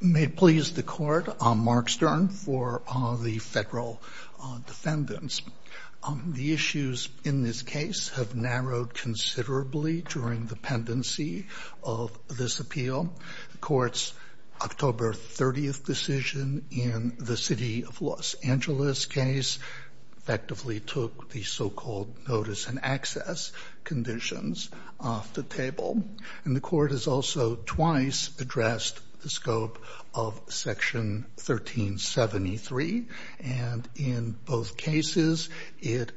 May it please the Court, I'm Mark Stern for the Federal Defendants. The issues in this case have narrowed considerably during the pendency of this appeal. The Court's October 30th decision in the off the table. And the Court has also twice addressed the scope of Section 1373, and in both cases it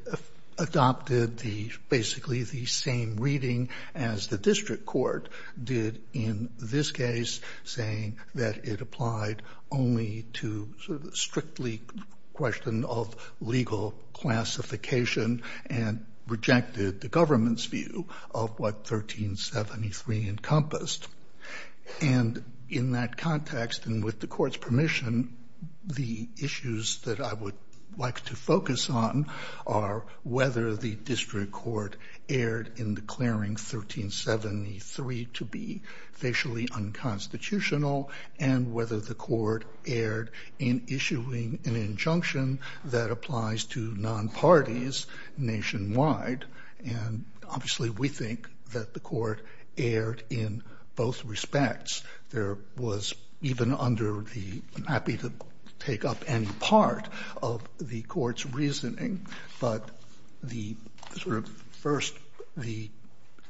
adopted the basically the same reading as the District Court did in this case, saying that it applied only to sort of strictly question of legal classification and rejected the government's view of what 1373 encompassed. And in that context and with the Court's permission, the issues that I would like to focus on are whether the District Court erred in declaring 1373 to be facially unconstitutional and whether the Court erred in issuing an injunction that applies to non-parties nationwide. And obviously we think that the Court erred in both respects. There was even under the, I'm happy to take up any part of the Court's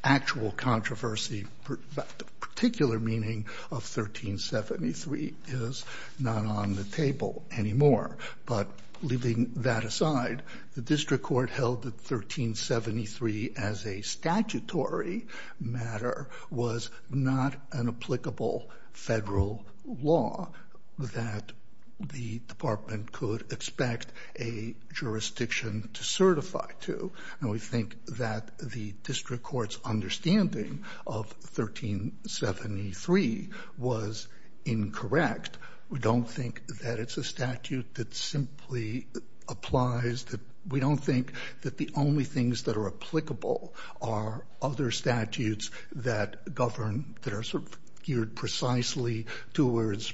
actual controversy, but the particular meaning of 1373 is not on the table anymore. But leaving that aside, the District Court held that 1373 as a statutory matter was not an applicable Federal law that the Department could expect a jurisdiction to certify to. And we think that the District Court's understanding of 1373 was incorrect. We don't think that it's a statute that simply applies. We don't think that the only things that are applicable are other statutes that govern, that are sort of geared precisely towards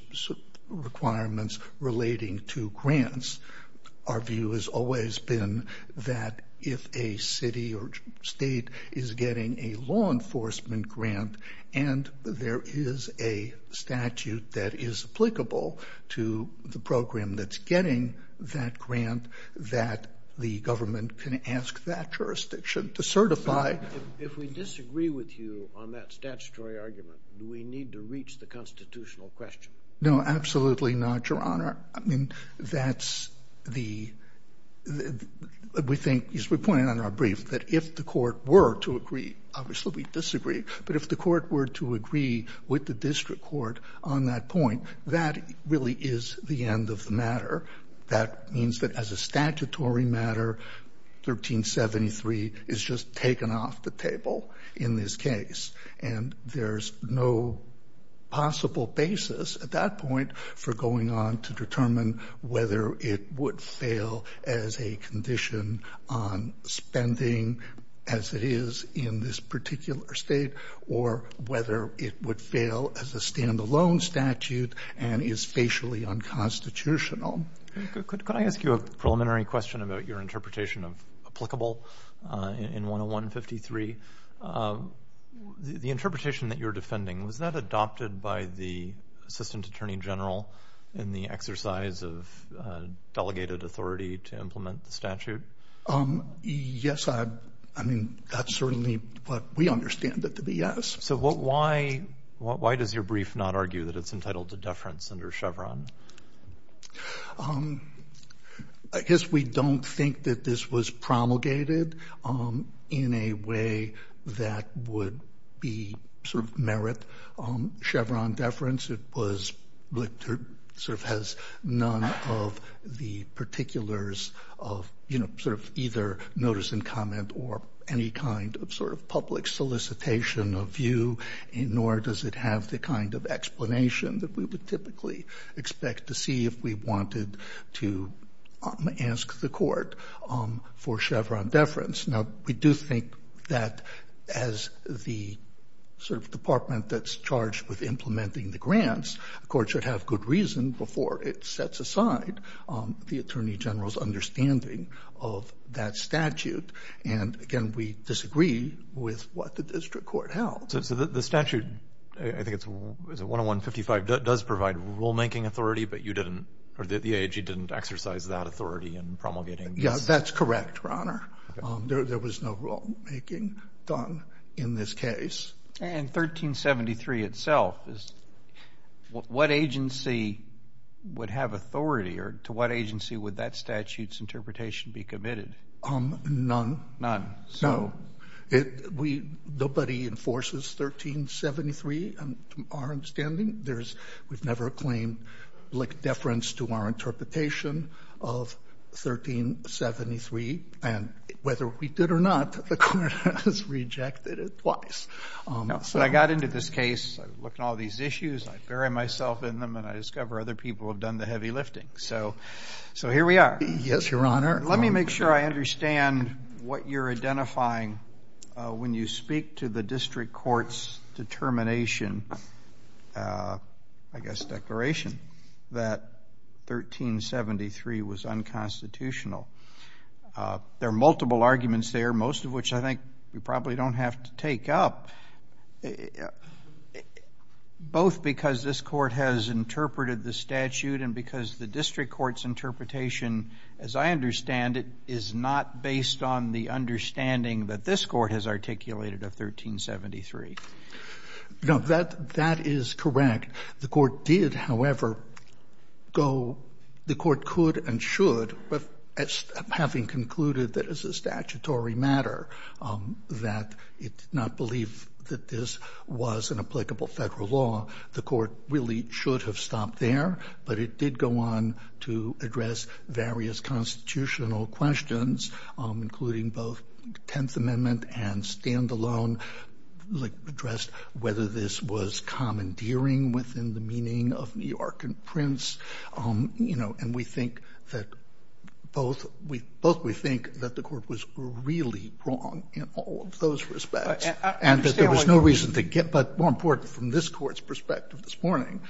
requirements relating to grants. Our view has always been that if a city or state is getting a law enforcement grant and there is a statute that is applicable to the program that's getting that grant, that the government can ask that jurisdiction to certify. If we disagree with you on that statutory argument, do we need to reach the constitutional question? No, absolutely not, Your Honor. I mean, that's the — we think, as we pointed out in our brief, that if the Court were to agree, obviously we'd disagree. But if the Court were to agree with the District Court on that point, that really is the end of the matter. That means that as a statutory matter, 1373 is just taken off the table in this case. And there's no possible basis at that point for going on to determine whether it would fail as a condition on spending, as it is in this particular state, or whether it would fail as a stand-alone statute and is facially unconstitutional. Could I ask you a preliminary question about your interpretation of applicable in 101-53? The interpretation that you're defending, was that adopted by the Assistant Attorney General in the exercise of delegated authority to implement the statute? Yes. I mean, that's certainly what we understand it to be, yes. So why does your brief not argue that it's entitled to deference under Chevron? I guess we don't think that this was promulgated in a way that would be sort of merit Chevron deference. It was sort of has none of the particulars of, you know, sort of either notice and comment or any kind of sort of public solicitation of view, nor does it have the kind of explanation that we would typically expect to see if we wanted to ask the Court for Chevron deference. Now, we do think that as the sort of department that's charged with implementing the grants, the Court should have good reason before it sets aside the Attorney General's understanding of that statute. And again, we disagree with what the district court held. So the statute, I think it's 101-55, does provide rulemaking authority, but you didn't, or the AIG didn't exercise that authority in promulgating this? Yes, that's correct, Your Honor. There was no rulemaking done in this case. And 1373 itself, what agency would have authority, or to what agency would that statute's interpretation be committed? None. None. No. Nobody enforces 1373, to our understanding. There's, we've never claimed Blick deference to our interpretation of 1373. And whether we did or not, the Court has rejected it twice. So I got into this case, I looked at all these issues, I bury myself in them, and I discover other people have done the heavy lifting. So here we are. Yes, Your Honor. Let me make sure I understand what you're identifying when you speak to the district court's determination, I guess declaration, that 1373 was unconstitutional. There are multiple arguments there, most of which I think we probably don't have to take up, both because this Court has interpreted the statute and because the district court's interpretation, as I understand it, is not based on the understanding that this Court has articulated of 1373. No, that is correct. The Court did, however, go, the Court could and should, having concluded that it's a statutory matter, that it did not believe that this was an applicable federal law, the Court really should have stopped there, but it did go on to address various constitutional questions, including both 10th Amendment and standalone, like, addressed whether this was commandeering within the meaning of New York and Prince, and we think that both we think that the Court was really wrong in all of those respects, and that there was no reason to get, but more important, from this Court's perspective this morning,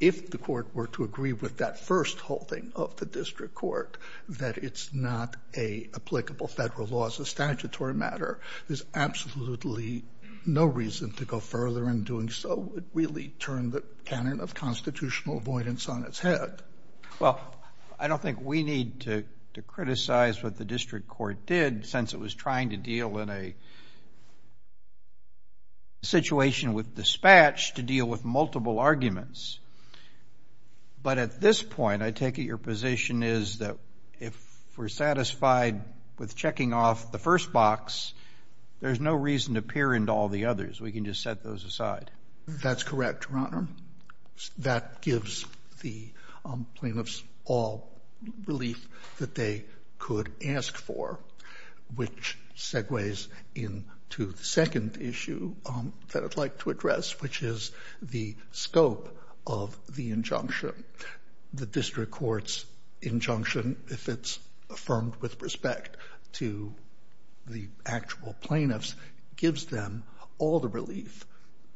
if the Court were to agree with that first holding of the district court, that it's not an applicable federal law as a statutory matter, there's absolutely no reason to go further in doing so. It really turned the canon of constitutional avoidance on its head. Well, I don't think we need to criticize what the district court did, since it was trying to deal in a situation with dispatch to deal with multiple arguments, but at this point, I take it your position is that if we're satisfied with checking off the first box, there's no reason to peer into all the others. We can just set those aside. That's correct, Your Honor. That gives the plaintiffs all relief that they could ask for, which segues into the second issue that I'd like to address, which is the scope of the injunction. The district court's injunction, if it's affirmed with respect to the actual plaintiffs, gives them all the relief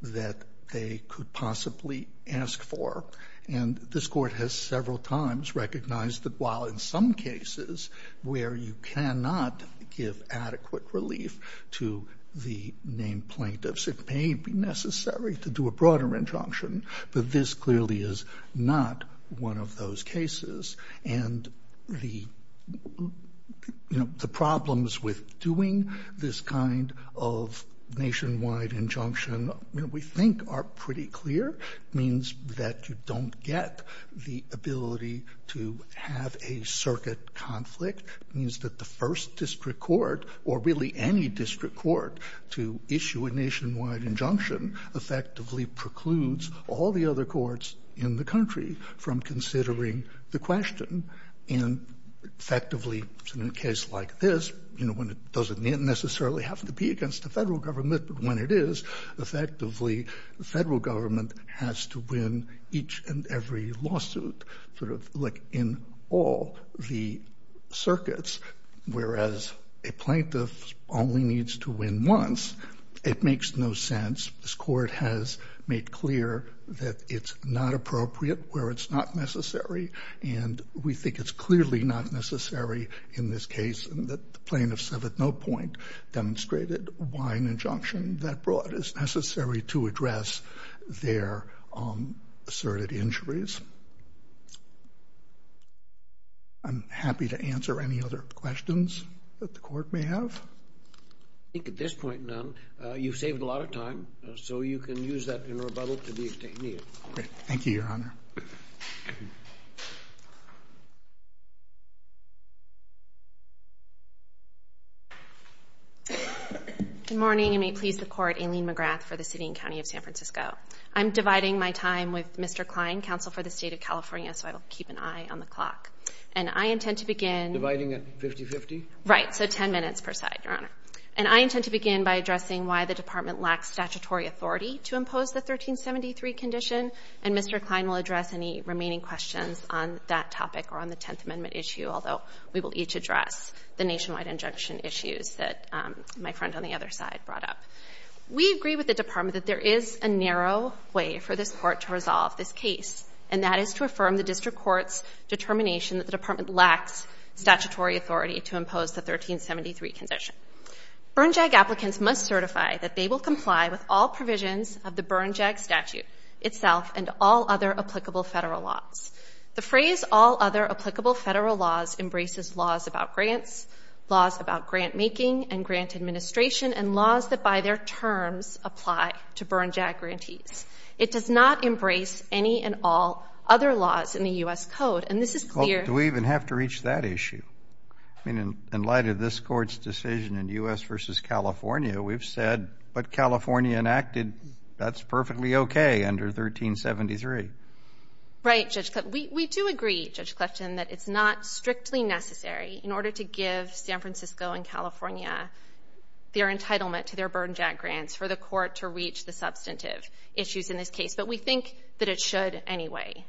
that they could possibly ask for, and this Court has several times recognized that while in some cases where you cannot give adequate relief to the named plaintiffs, it may be necessary to do a broader injunction, but this clearly is not one of those cases, and the problems with doing this kind of nationwide injunction, we think, are pretty clear. It means that you don't get the ability to have a circuit conflict. It means that the first district court or really any district court to issue a nationwide injunction effectively precludes all the other courts in the country from considering the question, and effectively in a case like this, you know, when it doesn't necessarily have to be against the Federal Government, but when it is, effectively the Federal Government has to win each and every lawsuit, sort of like in all the circuits, whereas a plaintiff only needs to win once. It makes no sense. This Court has made clear that it's not appropriate where it's not necessary, and we think it's clearly not necessary in this case, and that the plaintiffs have at no point demonstrated why an injunction that broad is necessary to address their asserted injuries. I'm happy to answer any other questions that the Court may have. I think at this point, none. You've saved a lot of time, so you can use that in rebuttal to the extended. Thank you, Your Honor. Good morning, and may it please the Court, Aileen McGrath for the City and County of San Francisco. I'm dividing my time with Mr. Klein, counsel for the State of California, so I will keep an eye on the clock. And I intend to begin. Dividing at 50-50? Right. So 10 minutes per side, Your Honor. And I intend to begin by addressing why the Department lacks statutory authority to impose the 1373 condition, and Mr. Klein will address any remaining questions on that topic or on the Tenth Amendment issue, although we will each address the nationwide injunction issues that my friend on the other side brought up. We agree with the Department that there is a narrow way for this Court to resolve this case, and that is to affirm the district court's determination that the Department lacks statutory authority to impose the 1373 condition. Bernjag applicants must certify that they will comply with all provisions of the Bernjag statute itself and all other applicable Federal laws. The phrase, all other applicable Federal laws, embraces laws about grants, laws about grant making and grant administration, and laws that by their terms apply to Bernjag grantees. It does not embrace any and all other laws in the U.S. Code, and this is clear Well, do we even have to reach that issue? I mean, in light of this Court's decision in U.S. v. California, we've said, but California enacted, that's perfectly okay under 1373. Right, Judge Clifton. We do agree, Judge Clifton, that it's not strictly necessary in order to give San Francisco and California their entitlement to their Bernjag grants for the Court to reach the substantive issues in this case, but we think that it should anyway.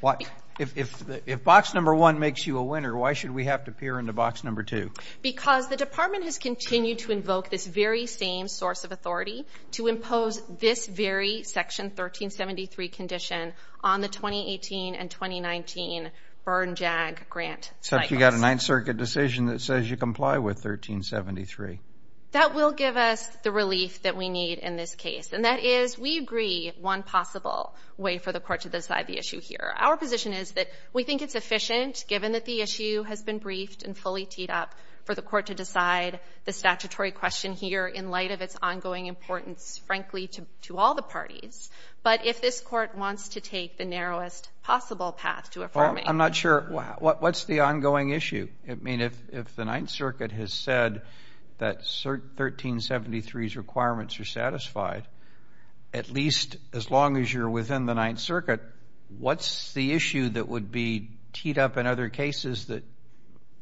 Why? If box number one makes you a winner, why should we have to peer into box number two? Because the Department has continued to invoke this very same source of authority to impose this very Section 1373 condition on the 2018 and 2019 Bernjag grant cycles. Except you got a Ninth Circuit decision that says you comply with 1373. That will give us the relief that we need in this case, and that is we agree one possible way for the Court to decide the issue here. Our position is that we think it's efficient, given that the issue has been briefed and fully teed up, for the Court to decide the statutory question here in light of its ongoing importance, frankly, to all the parties. But if this Court wants to take the narrowest possible path to affirming Well, I'm not sure. What's the ongoing issue? I mean, if the Ninth Circuit has said that 1373's requirements are satisfied, at least as long as you're within the Ninth Circuit, what's the issue that would be teed up in other cases that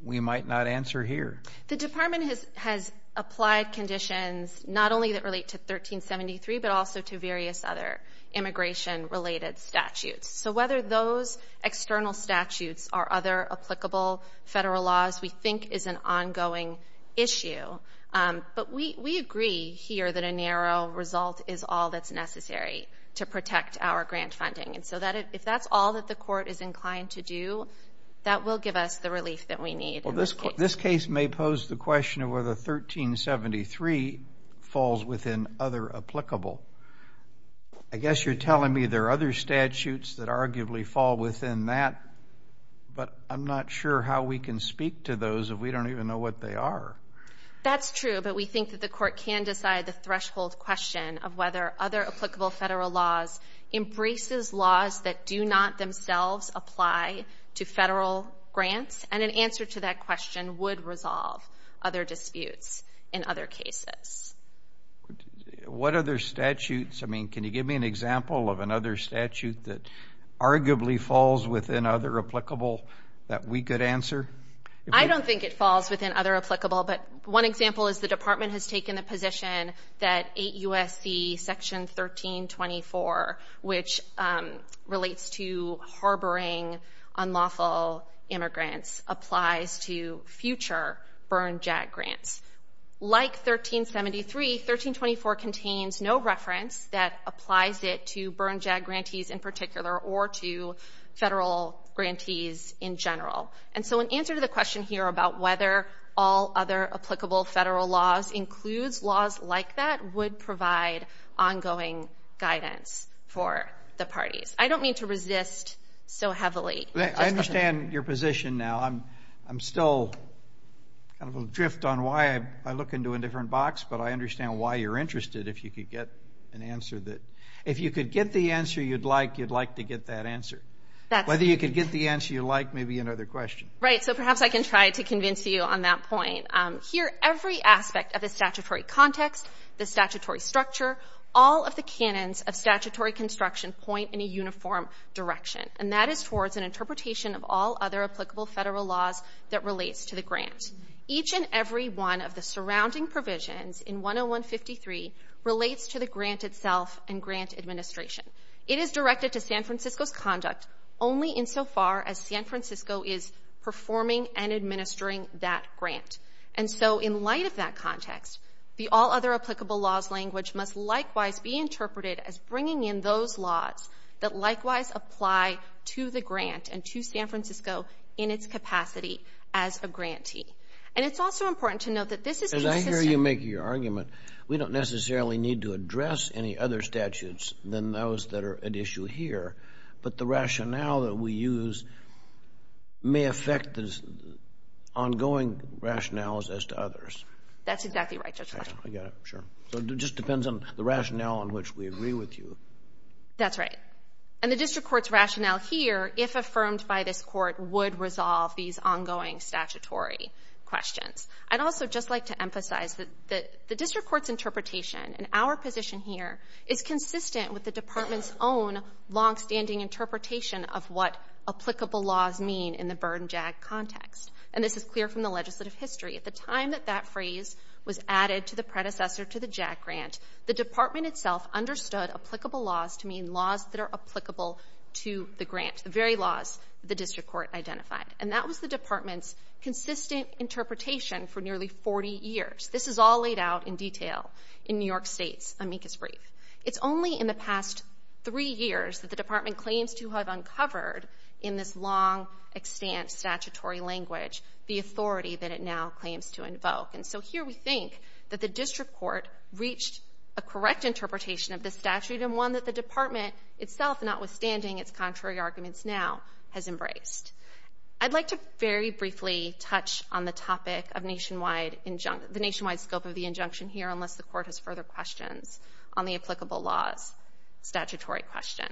we might not answer here? The Department has applied conditions not only that relate to 1373, but also to various other immigration-related statutes. So whether those external statutes are other applicable federal laws, we think is an ongoing issue. But we agree here that a narrow result is all that's necessary to protect our grant funding. And so if that's all that the Court is inclined to do, that will give us the relief that we need in this case. This case may pose the question of whether 1373 falls within other applicable. I guess you're telling me there are other statutes that arguably fall within that, but I'm not sure how we can speak to those if we don't even know what they are. That's true, but we think that the Court can decide the threshold question of whether other applicable federal laws embraces laws that do not themselves apply to federal grants. And an answer to that question would resolve other disputes in other cases. What other statutes? I mean, can you give me an example of another statute that arguably falls within other applicable that we could answer? I don't think it falls within other applicable. But one example is the Department has taken the position that 8 U.S.C. Section 1324, which relates to harboring unlawful immigrants, applies to future burn-jag grants. Like 1373, 1324 contains no reference that applies it to burn-jag grantees in particular or to federal grantees in general. And so an answer to the question here about whether all other applicable federal laws includes laws like that would provide ongoing guidance for the parties. I don't mean to resist so heavily. I understand your position now. I'm still kind of adrift on why. I look into a different box. But I understand why you're interested if you could get an answer. If you could get the answer you'd like, you'd like to get that answer. Whether you could get the answer you'd like may be another question. Right. So perhaps I can try to convince you on that point. Here, every aspect of the statutory context, the statutory structure, all of the canons of statutory construction point in a uniform direction. And that is towards an interpretation of all other applicable federal laws that relates to the grant. Each and every one of the surrounding provisions in 101-53 relates to the grant itself and grant administration. It is directed to San Francisco's conduct only insofar as San Francisco is performing and administering that grant. And so in light of that context, the all other applicable laws language must likewise be interpreted as bringing in those laws that likewise apply to the grant and to San Francisco in its capacity as a grantee. And it's also important to note that this is consistent. As I hear you making your argument, we don't necessarily need to address any other statutes than those that are at issue here. But the rationale that we use may affect the ongoing rationales as to others. That's exactly right, Judge Fletcher. I got it. So it just depends on the rationale on which we agree with you. That's right. And the district court's rationale here, if affirmed by this court, would resolve these ongoing statutory questions. I'd also just like to emphasize that the district court's interpretation and our position here is consistent with the department's own longstanding interpretation of what applicable laws mean in the burn-jag context. And this is clear from the legislative history. At the time that that phrase was added to the predecessor to the JAG grant, the department itself understood applicable laws to mean laws that are applicable to the grant, the very laws the district court identified. And that was the department's consistent interpretation for nearly 40 years. This is all laid out in detail in New York State's amicus brief. It's only in the past three years that the department claims to have uncovered in this long, extant statutory language the authority that it now claims to invoke. And so here we think that the district court reached a correct interpretation of this statute and one that the department itself, notwithstanding its contrary arguments now, has embraced. I'd like to very briefly touch on the topic of nationwide injunction, the nationwide scope of the injunction here, unless the court has further questions on the applicable laws statutory question.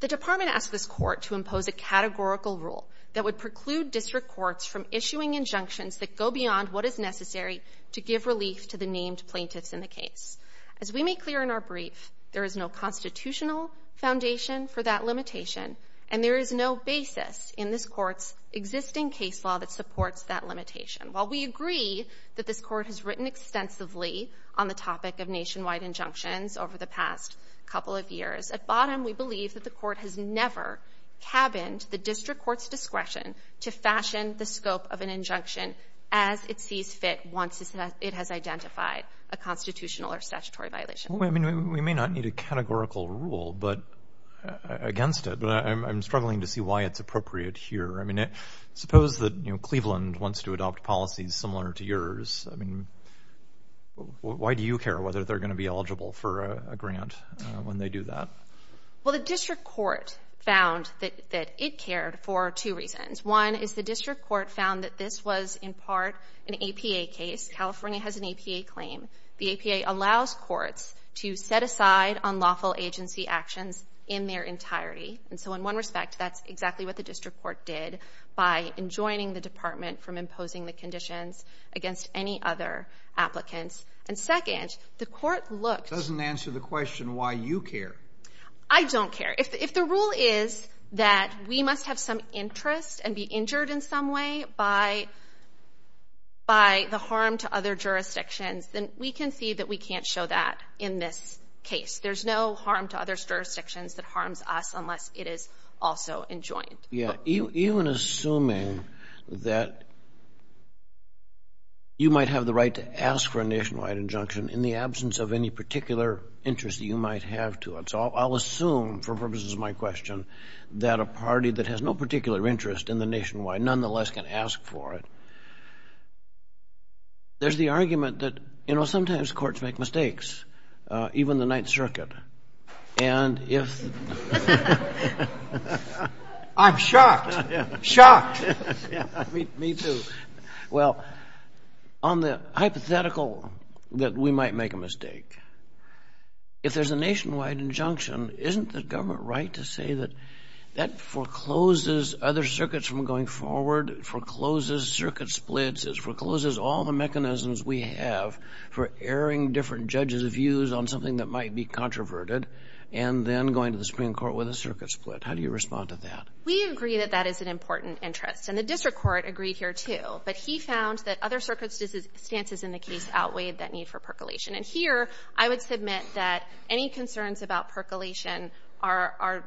The department asked this court to impose a categorical rule that would preclude district courts from issuing injunctions that go beyond what is necessary to give relief to the named plaintiffs in the case. As we make clear in our brief, there is no constitutional foundation for that limitation, and there is no basis in this court's existing case law that supports that limitation. While we agree that this court has written extensively on the topic of nationwide injunctions over the past couple of years, at bottom we believe that the court has never cabined the district court's discretion to fashion the scope of an injunction as it sees fit once it has identified a constitutional or statutory violation. I mean, we may not need a categorical rule against it, but I'm struggling to see why it's appropriate here. I mean, suppose that Cleveland wants to adopt policies similar to yours. I mean, why do you care whether they're going to be eligible for a grant when they do that? Well, the district court found that it cared for two reasons. One is the district court found that this was in part an APA case. California has an APA claim. The APA allows courts to set aside unlawful agency actions in their entirety. And so in one respect, that's exactly what the district court did by enjoining the other applicants. And second, the court looked. It doesn't answer the question why you care. I don't care. If the rule is that we must have some interest and be injured in some way by the harm to other jurisdictions, then we can see that we can't show that in this case. There's no harm to other jurisdictions that harms us unless it is also enjoined. Yeah. Even assuming that you might have the right to ask for a nationwide injunction in the absence of any particular interest that you might have to it. So I'll assume, for purposes of my question, that a party that has no particular interest in the nationwide nonetheless can ask for it. There's the argument that, you know, sometimes courts make mistakes, even the Ninth Circuit. And if... I'm shocked. Shocked. Me too. Well, on the hypothetical that we might make a mistake, if there's a nationwide injunction, isn't the government right to say that that forecloses other circuits from going forward, forecloses circuit splits, forecloses all the mechanisms we have for airing different judges' views on something that might be controverted, and then going to the Supreme Court with a circuit split? How do you respond to that? We agree that that is an important interest. And the district court agreed here, too. But he found that other circuit stances in the case outweighed that need for percolation. And here, I would submit that any concerns about percolation are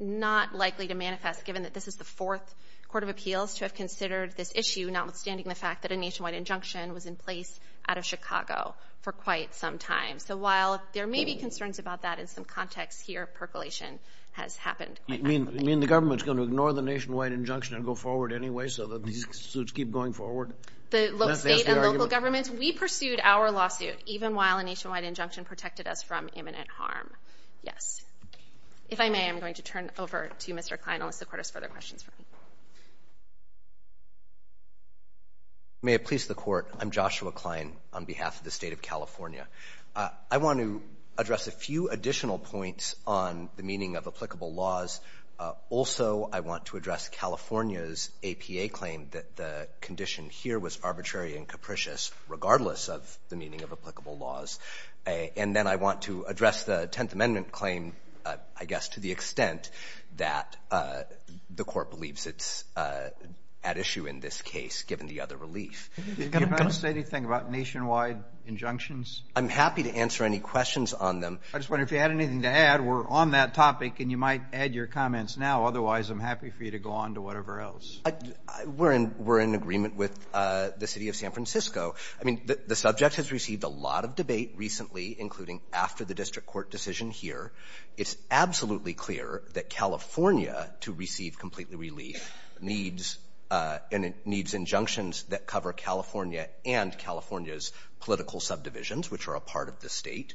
not likely to manifest, given that this is the fourth court of appeals to have considered this issue, notwithstanding the fact that a nationwide injunction was in place out of Chicago for quite some time. So while there may be concerns about that in some context here, percolation has happened. You mean the government's going to ignore the nationwide injunction and go forward anyway so that these suits keep going forward? The state and local governments, we pursued our lawsuit, even while a nationwide injunction protected us from imminent harm. Yes. If I may, I'm going to turn it over to Mr. Klein. Unless the Court has further questions for me. May it please the Court, I'm Joshua Klein on behalf of the State of California. I want to address a few additional points on the meaning of applicable laws. Also, I want to address California's APA claim that the condition here was arbitrary and capricious, regardless of the meaning of applicable laws. And then I want to address the Tenth Amendment claim, I guess, to the extent that the Court believes it's at issue in this case, given the other relief. Are you going to say anything about nationwide injunctions? I'm happy to answer any questions on them. I just wonder if you had anything to add. We're on that topic, and you might add your comments now. Otherwise, I'm happy for you to go on to whatever else. We're in agreement with the City of San Francisco. I mean, the subject has received a lot of debate recently, including after the district court decision here. It's absolutely clear that California, to receive complete relief, needs and it needs injunctions that cover California and California's political subdivisions, which are a part of the State.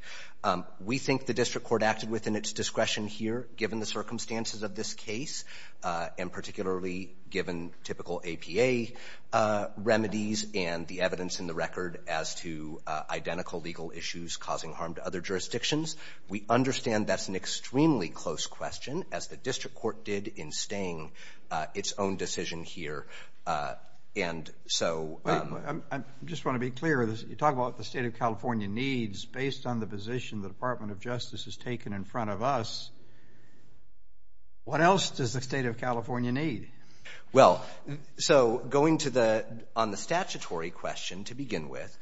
We think the district court acted within its discretion here, given the circumstances of this case, and particularly given typical APA remedies and the evidence in the record as to identical legal issues causing harm to other jurisdictions. We understand that's an extremely close question, as the district court did in staying its own decision here. And so — I just want to be clear. You talk about the State of California needs based on the position the Department of Justice has taken in front of us. What else does the State of California need? Well, so going to the — on the statutory question to begin with,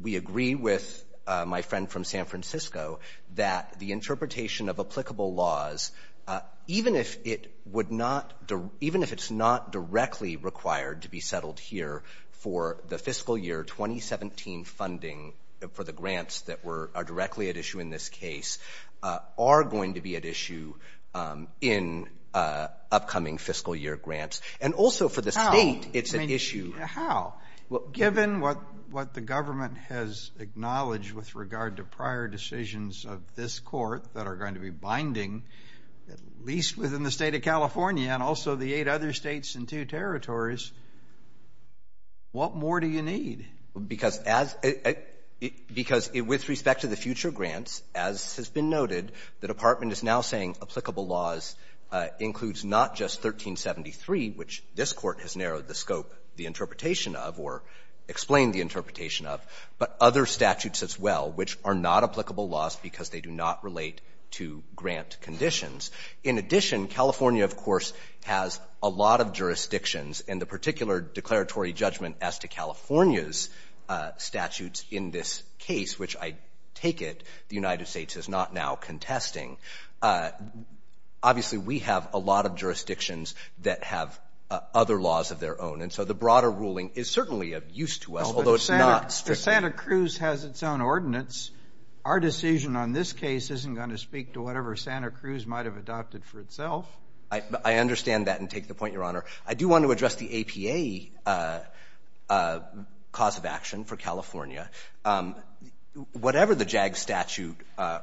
we agree with my friend from San Francisco that the interpretation of applicable laws, even if it would not — even if it's not directly required to be settled here for the fiscal year 2017 funding for the grants that were — are directly at issue in this case, are going to be at issue in upcoming fiscal year grants. And also for the State, it's an issue — How? How? Given what the government has acknowledged with regard to prior decisions of this court that are going to be binding, at least within the State of California and also the eight other states and two territories, what more do you need? Because as — because with respect to the future grants, as has been noted, the Department is now saying applicable laws includes not just 1373, which this Court has narrowed the scope, the interpretation of or explained the interpretation of, but other statutes as well, which are not applicable laws because they do not relate to grant conditions. In addition, California, of course, has a lot of jurisdictions, and the particular declaratory judgment as to California's statutes in this case, which I take it the United States is not now contesting, obviously, we have a lot of jurisdictions that have other laws of their own. And so the broader ruling is certainly of use to us, although it's not strictly — But Santa Cruz has its own ordinance. Our decision on this case isn't going to speak to whatever Santa Cruz might have adopted for itself. I understand that and take the point, Your Honor. I do want to address the APA cause of action for California. Whatever the JAG statute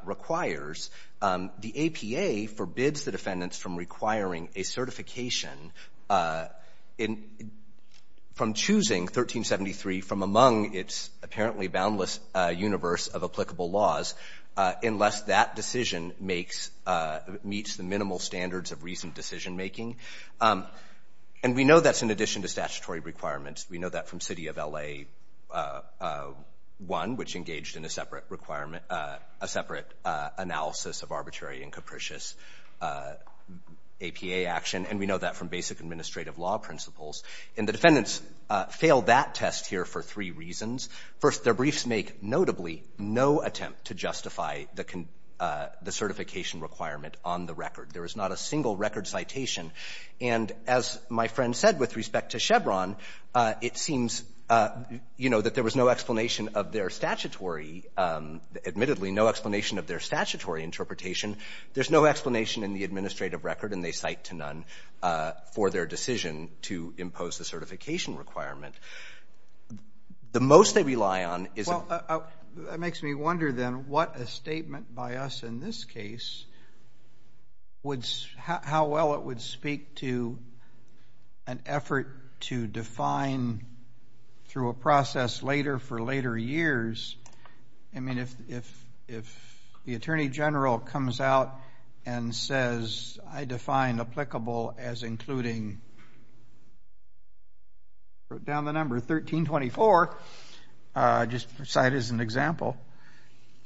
requires, the APA forbids the defendants from requiring a certification from choosing 1373 from among its apparently boundless universe of applicable laws unless that decision makes — meets the minimal standards of reasoned decision-making. And we know that's in addition to statutory requirements. We know that from City of L.A. 1, which engaged in a separate requirement — a separate analysis of arbitrary and capricious APA action. And we know that from basic administrative law principles. And the defendants failed that test here for three reasons. First, their briefs make notably no attempt to justify the certification requirement on the record. There is not a single record citation. And as my friend said with respect to Chevron, it seems, you know, that there was no explanation of their statutory — admittedly, no explanation of their statutory interpretation. There's no explanation in the administrative record, and they cite to none for their decision to impose the certification requirement. The most they rely on is — Well, that makes me wonder then what a statement by us in this case would — how well it would speak to an effort to define through a process later for later years. I mean, if the Attorney General comes out and says, I define applicable as including — wrote down the number, 1324, just to cite as an example.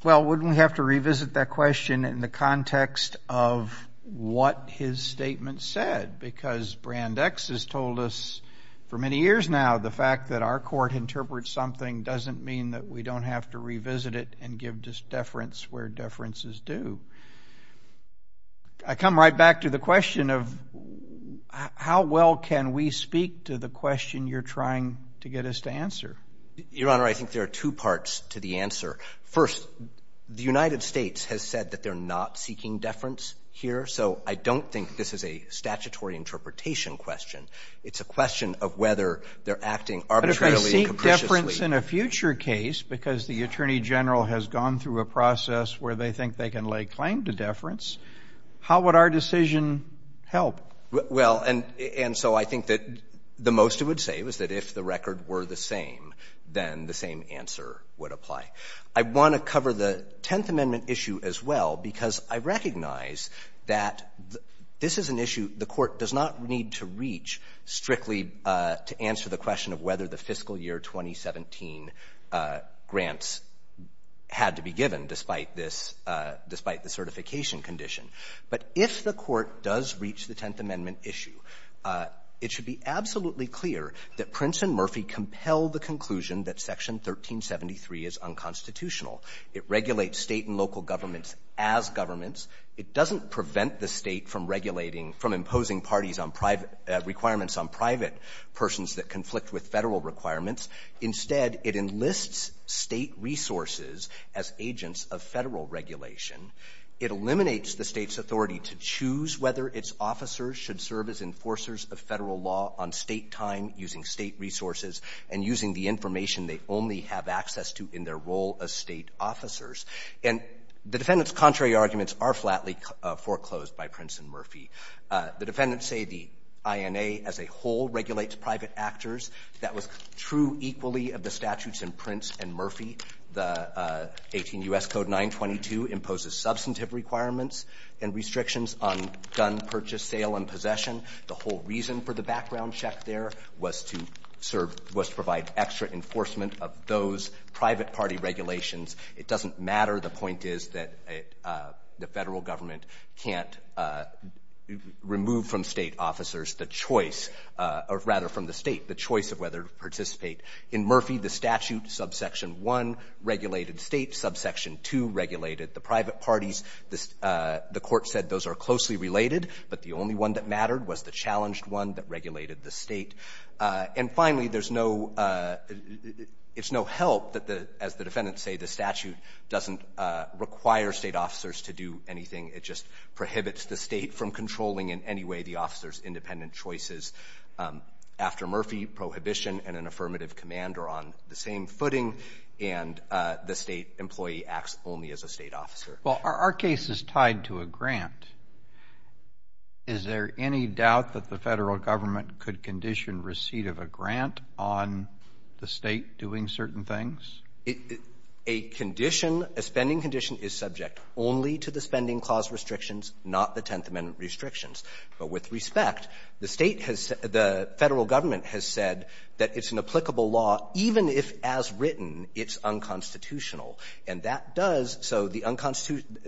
Well, wouldn't we have to revisit that question in the context of what his statement said? Because Brand X has told us for many years now, the fact that our court interprets something doesn't mean that we don't have to revisit it and give deference where deference is due. I come right back to the question of how well can we speak to the question you're trying to get us to answer? Your Honor, I think there are two parts to the answer. First, the United States has said that they're not seeking deference here, so I don't think this is a statutory interpretation question. It's a question of whether they're acting arbitrarily and capriciously. But if they seek deference in a future case because the Attorney General has gone through a process where they think they can lay claim to deference, how would our decision help? Well, and so I think that the most it would say was that if the record were the same, then the same answer would apply. I want to cover the Tenth Amendment issue as well because I recognize that this is an issue the court does not need to reach strictly to answer the question of whether the fiscal year 2017 grants had to be given despite this, despite the certification condition. But if the court does reach the Tenth Amendment issue, it should be absolutely clear that Prince and Murphy compel the conclusion that Section 1373 is unconstitutional. It regulates State and local governments as governments. It doesn't prevent the State from regulating, from imposing parties on private requirements on private persons that conflict with Federal requirements. Instead, it enlists State resources as agents of Federal regulation. It eliminates the State's authority to choose whether its officers should serve as enforcers of Federal law on State time using State resources and using the information they only have access to in their role as State officers. And the defendant's contrary arguments are flatly foreclosed by Prince and Murphy. The defendants say the INA as a whole regulates private actors. That was true equally of the statutes in Prince and Murphy. The 18 U.S. Code 922 imposes substantive requirements and restrictions on gun purchase, sale, and possession. The whole reason for the background check there was to serve, was to provide extra enforcement of those private party regulations. It doesn't matter. The point is that the Federal government can't remove from State officers the choice of, or rather from the State, the choice of whether to participate. In Murphy, the statute subsection 1 regulated State, subsection 2 regulated the private parties. The Court said those are closely related, but the only one that mattered was the challenged one that regulated the State. And finally, there's no – it's no help that, as the defendants say, the statute doesn't require State officers to do anything. It just prohibits the State from controlling in any way the officers' independent choices. After Murphy, prohibition and an affirmative command are on the same footing, and the State employee acts only as a State officer. Well, are our cases tied to a grant? Is there any doubt that the Federal government could condition receipt of a grant on the State doing certain things? A condition, a spending condition, is subject only to the Spending Clause restrictions, not the Tenth Amendment restrictions. But with respect, the State has said – the Federal government has said that it's an applicable law even if, as written, it's unconstitutional. And that does – so the unconstitutional –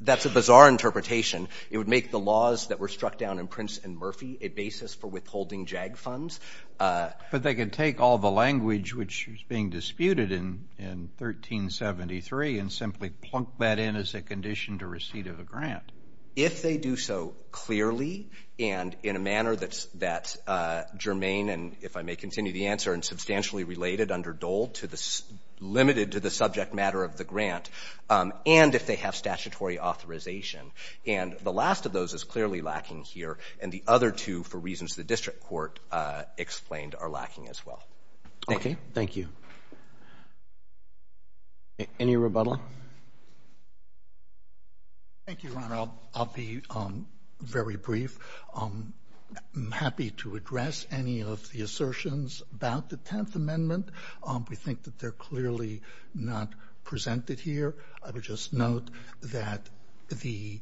that's a bizarre interpretation. It would make the laws that were struck down in Prince and Murphy a basis for withholding JAG funds. But they could take all the language which was being disputed in 1373 and simply plunk that in as a condition to receipt of a grant. If they do so clearly and in a manner that's germane and, if I may continue the answer, and substantially related under Dole to the – limited to the subject matter of the grant, and if they have statutory authorization. And the last of those is clearly lacking here, and the other two, for reasons the panel has explained, are lacking as well. Thank you. Okay. Thank you. Any rebuttal? Thank you, Your Honor. I'll be very brief. I'm happy to address any of the assertions about the Tenth Amendment. We think that they're clearly not presented here. I would just note that the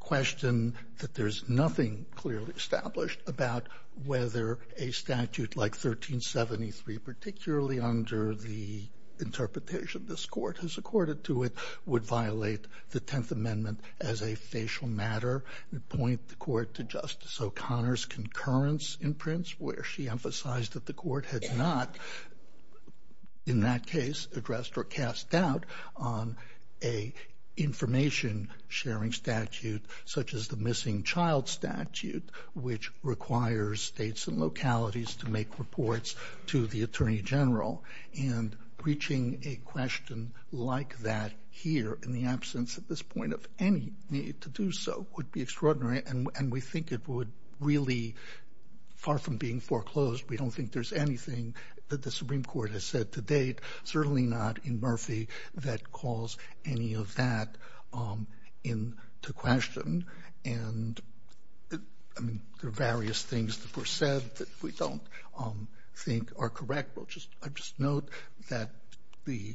question that there's nothing clearly established about whether a statute like 1373, particularly under the interpretation this court has accorded to it, would violate the Tenth Amendment as a facial matter and point the court to Justice O'Connor's concurrence in Prince where she emphasized that the court had not, in that case, addressed or cast doubt on a information-sharing statute such as the missing child statute, which requires states and localities to make reports to the Attorney General. And reaching a question like that here in the absence at this point of any need to do so would be extraordinary, and we think it would really – far from being foreclosed, we don't think there's anything that the Supreme Court has said to date, certainly not in Murphy, that calls any of that into question. And, I mean, there are various things that were said that we don't think are correct. I'll just note that the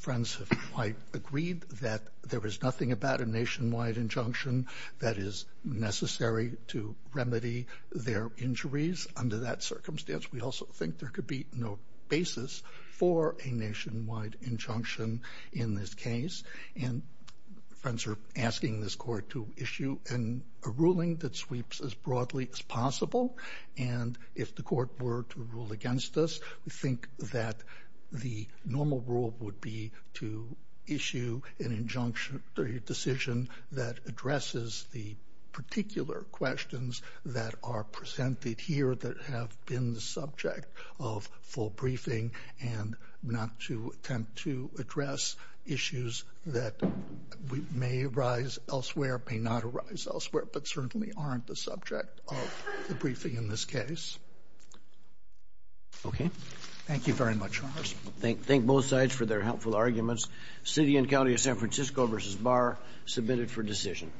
friends have quite agreed that there is nothing about a nationwide injunction that is necessary to remedy their injuries under that circumstance. We also think there could be no basis for a nationwide injunction in this case, and friends are asking this court to issue a ruling that sweeps as broadly as possible, and if the court were to rule against us, we think that the normal rule would be to issue an injunction or a decision that addresses the particular questions that are presented here that have been the subject of full briefing and not to attempt to address issues that may arise elsewhere, may not arise elsewhere, but certainly aren't the subject of the briefing in this case. Thank you very much, Charles. Thank both sides for their helpful arguments. City and County of San Francisco v. Barr, submitted for decision.